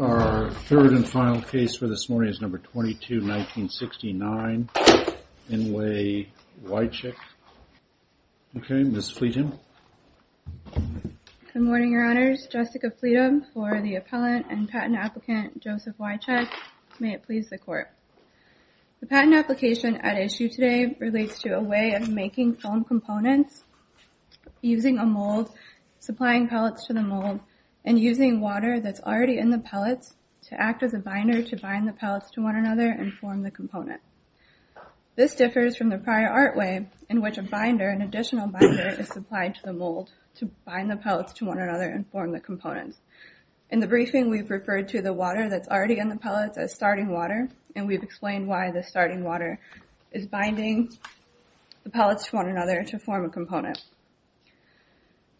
Our third and final case for this morning is number 22-1969, In Re Wycech. Okay, Ms. Fleetham. Good morning, your honors. Jessica Fleetham for the appellant and patent applicant, Joseph Wycech. May it please the court. The patent application at issue today relates to a way of making foam components, using a mold, supplying pellets to the mold, and using water that's already in the pellets to act as a binder to bind the pellets to one another and form the component. This differs from the prior art way in which a binder, an additional binder, is supplied to the mold to bind the pellets to one another and form the components. In the briefing, we've referred to the water that's already in the pellets as starting water, and we've explained why the starting water is binding the pellets to one another to form a component.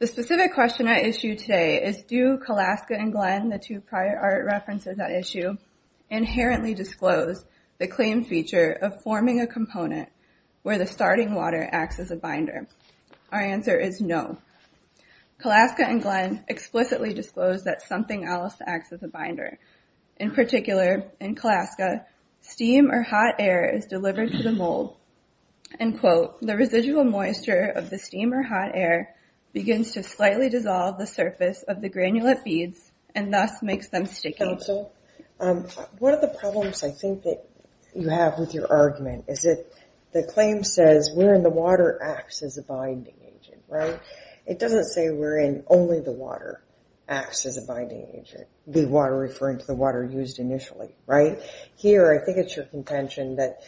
The specific question at issue today is, do Kolaska and Glenn, the two prior art references at issue, inherently disclose the claimed feature of forming a component where the starting water acts as a binder? Our answer is no. Kolaska and Glenn explicitly disclose that something else acts as a binder. In particular, in Kolaska, steam or hot air is delivered to the mold, and, quote, the residual moisture of the steam or hot air begins to slightly dissolve the surface of the granulate beads and thus makes them sticky. So, one of the problems I think that you have with your argument is that the claim says where in the water acts as a binding agent, right? It doesn't say where in only the water acts as a binding agent, the water referring to the water used initially, right? Here, I think it's your contention that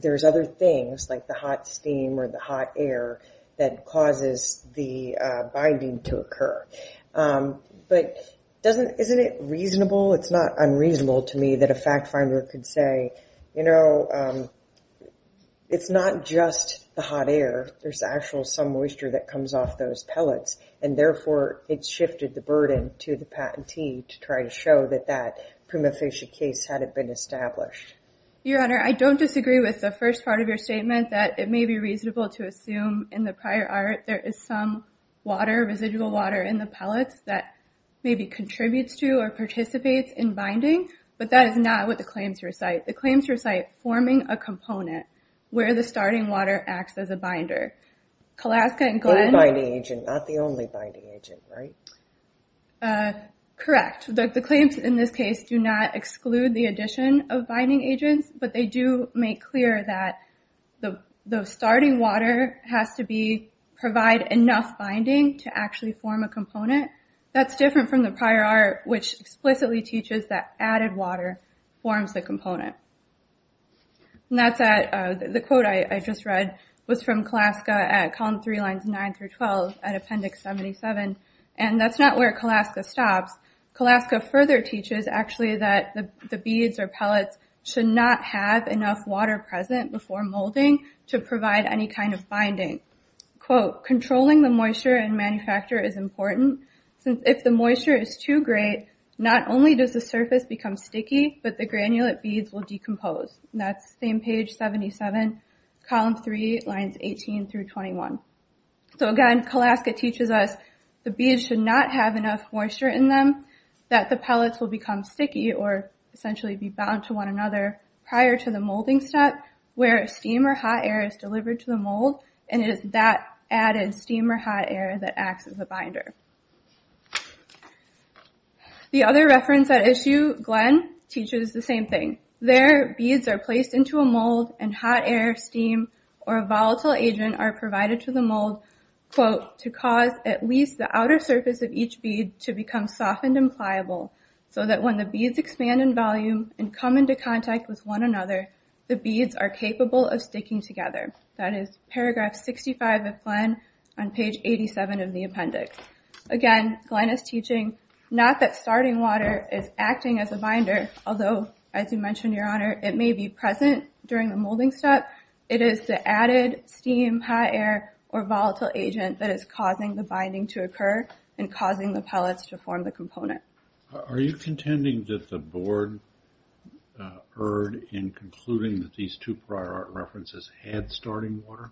there's other things like the hot steam or the hot air that causes the binding to occur. But isn't it reasonable? It's not unreasonable to me that a fact finder could say, you know, it's not just the hot air. There's actual some moisture that comes off those pellets. And therefore, it shifted the burden to the patentee to try to show that that prima facie case hadn't been established. Your Honor, I don't disagree with the first part of your statement that it may be reasonable to assume in the prior art there is some water, residual water in the pellets that maybe contributes to or participates in binding. But that is not what the claims recite. The claims recite forming a component where the starting water acts as a binder. Kolaska and Glenn. The binding agent, not the only binding agent, right? Correct. The claims in this case do not exclude the addition of binding agents, but they do make clear that the starting water has to be, provide enough binding to actually form a component. That's different from the prior art, which explicitly teaches that added water forms the component. And that's at, the quote I just read was from Kolaska at column three lines nine through 12 at appendix 77, and that's not where Kolaska stops. Kolaska further teaches actually that the beads or pellets should not have enough water present before molding to provide any kind of binding. Quote, controlling the moisture in manufacture is important. If the moisture is too great, not only does the surface become sticky, but the granulate beads will decompose. That's same page 77, column three lines 18 through 21. So again, Kolaska teaches us the beads should not have enough moisture in them, that the pellets will become sticky or essentially be bound to one another prior to the molding step where steam or hot air is delivered to the mold and it is that added steam or hot air that acts as a binder. The other reference at issue, Glenn, teaches the same thing. There, beads are placed into a mold and hot air, steam, or a volatile agent are provided to the mold, quote, to cause at least the outer surface of each bead to become softened and pliable so that when the beads expand in volume and come into contact with one another, the beads are capable of sticking together. That is paragraph 65 of Glenn on page 87 of the appendix. Again, Glenn is teaching not that starting water is acting as a binder, although as you mentioned, your honor, it may be present during the molding step. It is the added steam, hot air, or volatile agent that is causing the binding to occur Are you contending that the board erred in concluding that these two prior art references had starting water?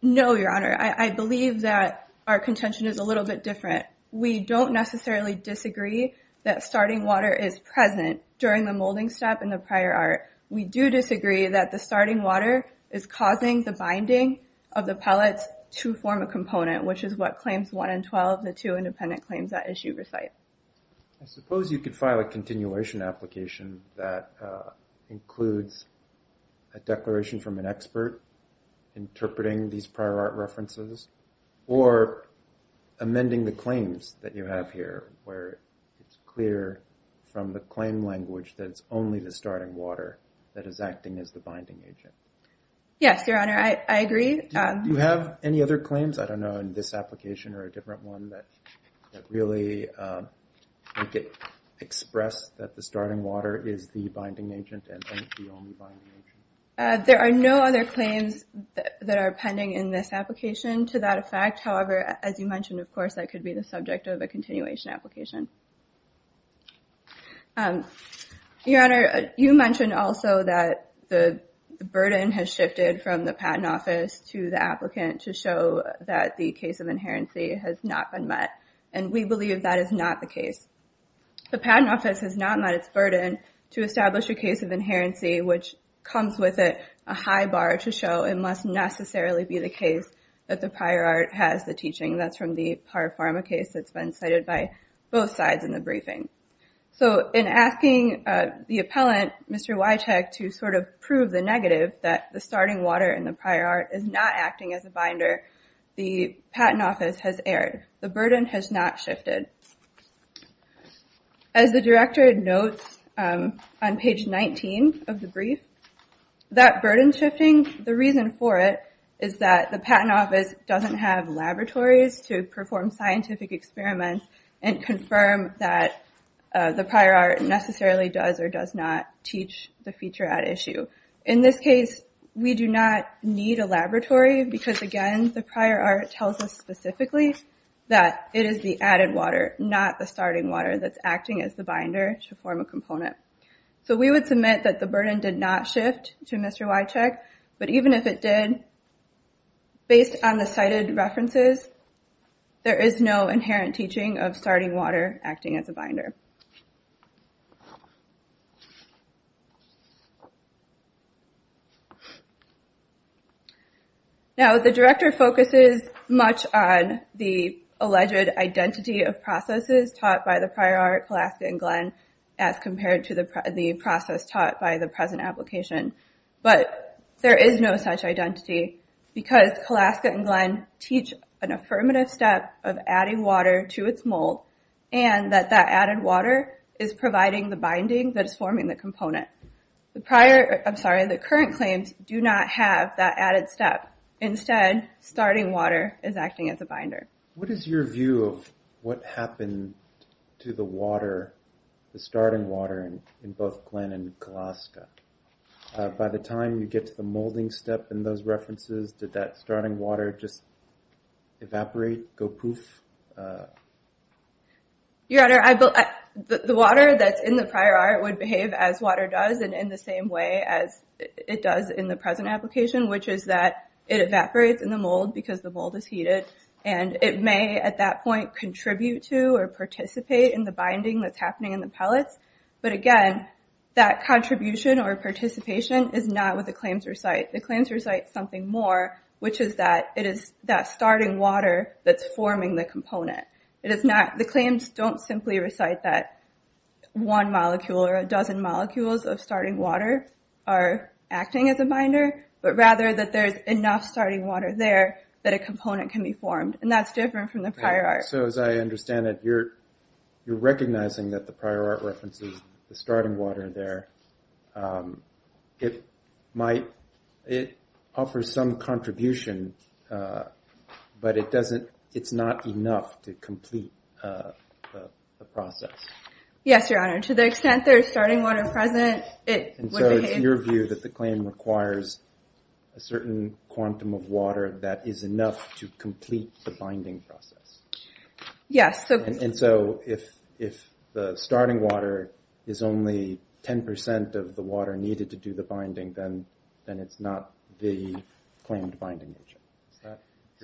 No, your honor. I believe that our contention is a little bit different. We don't necessarily disagree that starting water is present during the molding step in the prior art. We do disagree that the starting water is causing the binding of the pellets to form a component, which is what claims 1 and 12, the two independent claims that issue recite. I suppose you could file a continuation application that includes a declaration from an expert interpreting these prior art references or amending the claims that you have here where it's clear from the claim language that it's only the starting water that is acting as the binding agent. Yes, your honor. I agree. Do you have any other claims, I don't know, in this application or a different one that really express that the starting water is the binding agent and the only binding agent? There are no other claims that are pending in this application to that effect. However, as you mentioned, of course, that could be the subject of a continuation application. Your honor, you mentioned also that the burden has shifted from the patent office to the applicant to show that the case of inherency has not been met, and we believe that is not the case. The patent office has not met its burden to establish a case of inherency, which comes with it a high bar to show it must necessarily be the case that the prior art has the teaching. That's from the Par Pharma case that's been cited by both sides in the briefing. So in asking the appellant, Mr. Witek, to sort of prove the negative that the starting water and the prior art is not acting as a binder, the patent office has erred. The burden has not shifted. As the director notes on page 19 of the brief, that burden shifting, the reason for it is that the patent office doesn't have laboratories to perform scientific experiments and confirm that the prior art necessarily does or does not teach the feature at issue. In this case, we do not need a laboratory because, again, the prior art tells us specifically that it is the added water, not the starting water, that's acting as the binder to form a component. So we would submit that the burden did not shift to Mr. Witek, but even if it did, based on the cited references, there is no inherent teaching of starting water acting as a binder. Now, the director focuses much on the alleged identity of processes taught by the prior art, Kalaska and Glenn, as compared to the process taught by the present application, but there is no such identity because Kalaska and Glenn teach an affirmative step of adding water to its mold and that that added water is providing the binding that is forming the component. The current claims do not have that added step. Instead, starting water is acting as a binder. What is your view of what happened to the water, the starting water, in both Glenn and Kalaska? By the time you get to the molding step in those references, did that starting water just evaporate, go poof? Your Honor, the water that's in the prior art would behave as water does and in the same way as it does in the present application, which is that it evaporates in the mold because the mold is heated and it may, at that point, contribute to or participate in the binding that's happening in the pellets, but again, that contribution or participation is not what the claims recite. The claims recite something more, which is that it is that starting water that's forming the component. The claims don't simply recite that one molecule or a dozen molecules of starting water are acting as a binder, but rather that there is enough starting water there that a component can be formed, and that's different from the prior art. So as I understand it, you're recognizing that the prior art references the starting water there. It might offer some contribution, but it's not enough to complete the process. Yes, Your Honor. To the extent there is starting water present, it would behave... So it's your view that the claim requires a certain quantum of water that is enough to complete the binding process? Yes. And so if the starting water is only 10% of the water needed to do the binding, then it's not the claimed binding.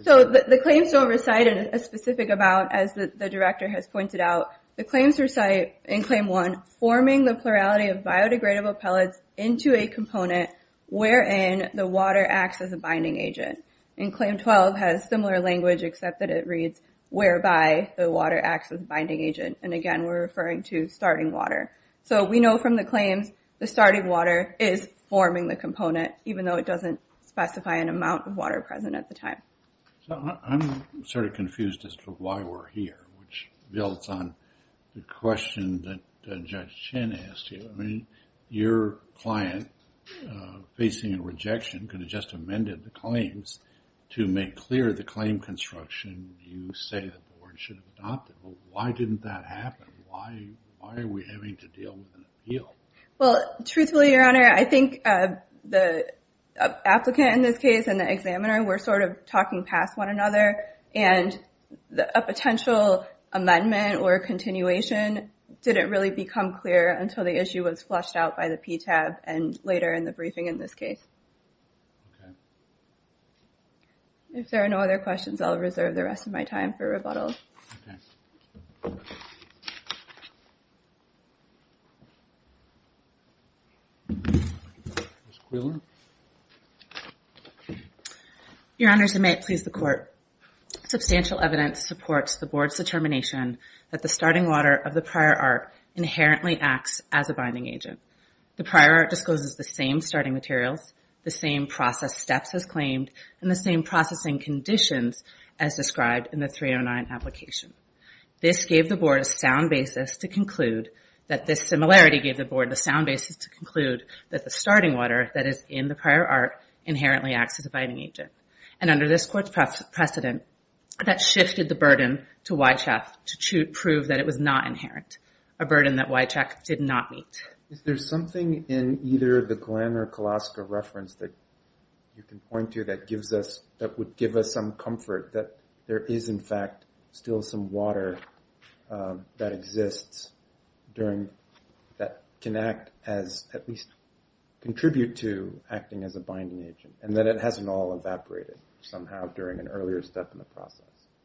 So the claims don't recite a specific amount, as the director has pointed out. The claims recite in Claim 1, forming the plurality of biodegradable pellets into a component wherein the water acts as a binding agent. And Claim 12 has similar language, except that it reads, whereby the water acts as a binding agent. And again, we're referring to starting water. So we know from the claims, the starting water is forming the component, even though it doesn't specify an amount of water present at the time. So I'm sort of confused as to why we're here, which builds on the question that Judge Chen asked you. I mean, your client, facing a rejection, could have just amended the claims to make clear the claim construction you say the board should have adopted. Why didn't that happen? Why are we having to deal with an appeal? Well, truthfully, Your Honor, I think the applicant in this case and the examiner were sort of talking past one another, and a potential amendment or continuation didn't really become clear until the issue was flushed out by the PTAB and later in the briefing in this case. If there are no other questions, I'll reserve the rest of my time for rebuttal. Okay. Your Honors, and may it please the Court, substantial evidence supports the Board's determination that the starting water of the prior art inherently acts as a binding agent. The prior art discloses the same starting materials, the same process steps as claimed, and the same processing conditions as described in the 309 application. This gave the Board a sound basis to conclude that the starting water that is in the prior art inherently acts as a binding agent. And under this Court's precedent, that shifted the burden to Wychak to prove that it was not inherent, a burden that Wychak did not meet. Is there something in either the Glenn or Kolaska reference that you can point to that gives us, that would give us some comfort that there is in fact still some water that exists during, that can act as, at least contribute to acting as a binding agent, and that it hasn't all evaporated somehow during an earlier step in the process?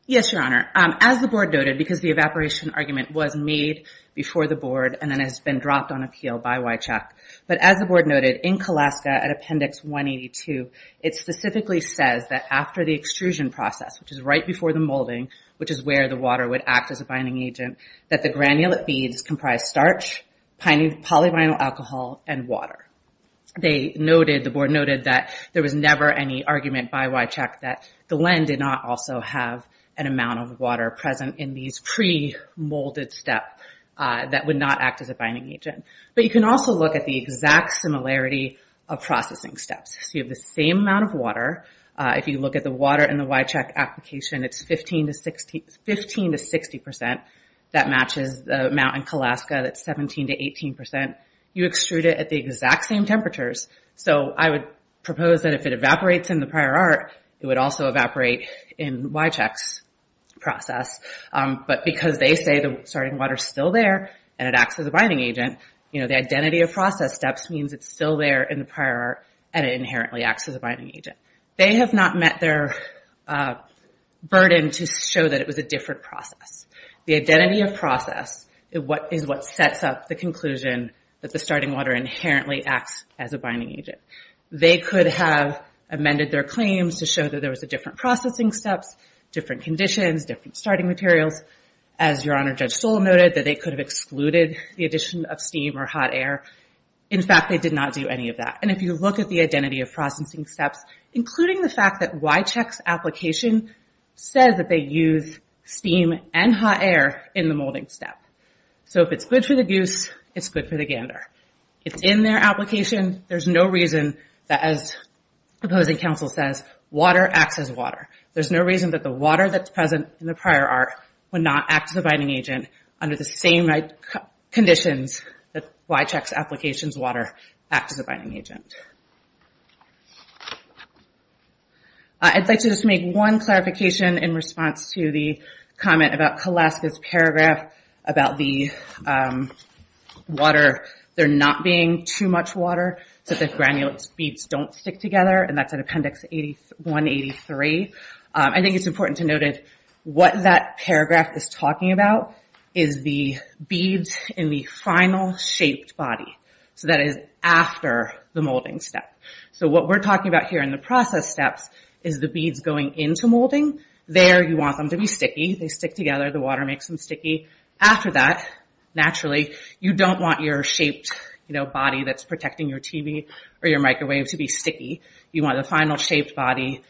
Yes, Your Honor. As the Board noted, because the evaporation argument was made before the Board and then has been dropped on appeal by Wychak. But as the Board noted, in Kolaska at Appendix 182, it specifically says that after the extrusion process, which is right before the molding, which is where the water would act as a binding agent, that the granulate beads comprise starch, polyvinyl alcohol, and water. They noted, the Board noted, that there was never any argument by Wychak that the Glenn did not also have an amount of water present in these pre-molded steps that would not act as a binding agent. But you can also look at the exact similarity of processing steps. So you have the same amount of water. If you look at the water in the Wychak application, it's 15 to 60 percent that matches the amount in Kolaska that's 17 to 18 percent. You extrude it at the exact same temperatures. So I would propose that if it evaporates in the prior art, it would also evaporate in Wychak's process. But because they say the starting water is still there, and it acts as a binding agent, the identity of process steps means it's still there in the prior art, and it inherently acts as a binding agent. They have not met their burden to show that it was a different process. The identity of process is what sets up the conclusion that the starting water inherently acts as a binding agent. They could have amended their claims to show that there was a different processing steps, different conditions, different starting materials. As Your Honor, Judge Stoll noted, that they could have excluded the addition of steam or hot air. In fact, they did not do any of that. And if you look at the identity of processing steps, including the fact that Wychak's application says that they use steam and hot air in the molding step. So if it's good for the goose, it's good for the gander. It's in their application. There's no reason that, as opposing counsel says, water acts as water. There's no reason that the water that's present in the prior art would not act as a binding agent under the same conditions that Wychak's application's water acts as a binding agent. I'd like to just make one clarification in response to the comment about Kaleska's paragraph about the water, there not being too much water, so that granular beads don't stick together, and that's in appendix 183. I think it's important to note that what that paragraph is talking about is the beads in the final shaped body. So that is after the molding step. So what we're talking about here in the process steps is the beads going into molding. There you want them to be sticky. They stick together, the water makes them sticky. After that, naturally, you don't want your shaped body that's protecting your TV or your microwave to be sticky. You want the final shaped body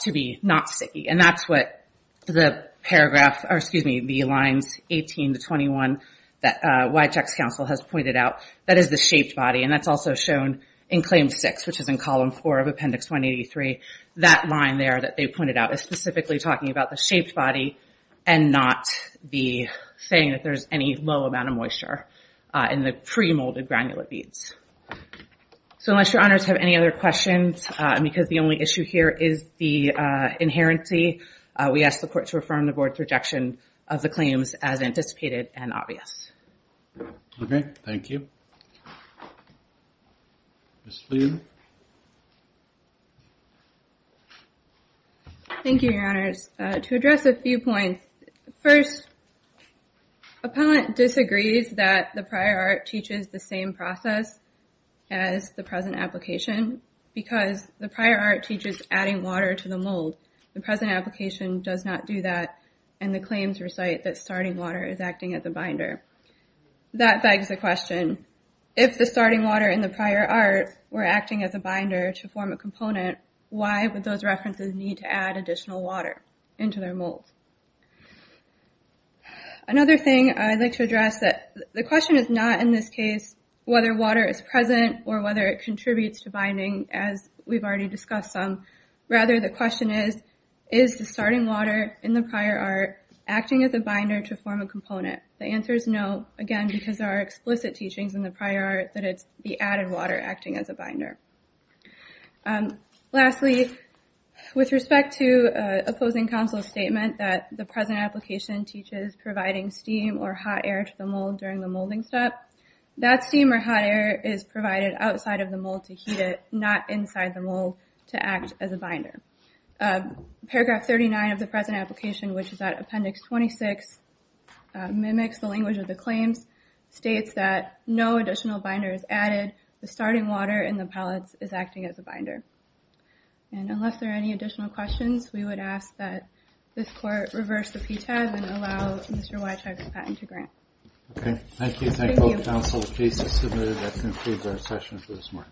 to be not sticky. And that's what the paragraph, or excuse me, the lines 18 to 21 that Wychak's counsel has pointed out. That is the shaped body, and that's also shown in claim six, which is in column four of appendix 183. That line there that they pointed out is specifically talking about the shaped body and not saying that there's any low amount of moisture in the pre-molded granular beads. So unless your honors have any other questions, because the only issue here is the inherency, we ask the court to affirm the board's rejection of the claims as anticipated and obvious. Okay, thank you. Ms. Fleer. Thank you, your honors. To address a few points. First, appellant disagrees that the prior art teaches the same process as the present application because the prior art teaches adding water to the mold. The present application does not do that, and the claims recite that starting water is acting as a binder. That begs the question, if the starting water and the prior art were acting as a binder to form a component, why would those references need to add additional water into their mold? Another thing I'd like to address, the question is not in this case whether water is present or whether it contributes to binding, as we've already discussed some. Rather, the question is, is the starting water in the prior art acting as a binder to form a component? The answer is no, again, because there are explicit teachings in the prior art that it's the added water acting as a binder. Lastly, with respect to opposing counsel's statement that the present application teaches providing steam or hot air to the mold during the molding step, that steam or hot air is provided outside of the mold to heat it, not inside the mold to act as a binder. Paragraph 39 of the present application, which is at appendix 26, mimics the language of the claims, states that no additional binder is added, the starting water in the pellets is acting as a binder. Unless there are any additional questions, we would ask that this court reverse the PTAB and allow Mr. Wyethuysen's patent to grant. Thank you.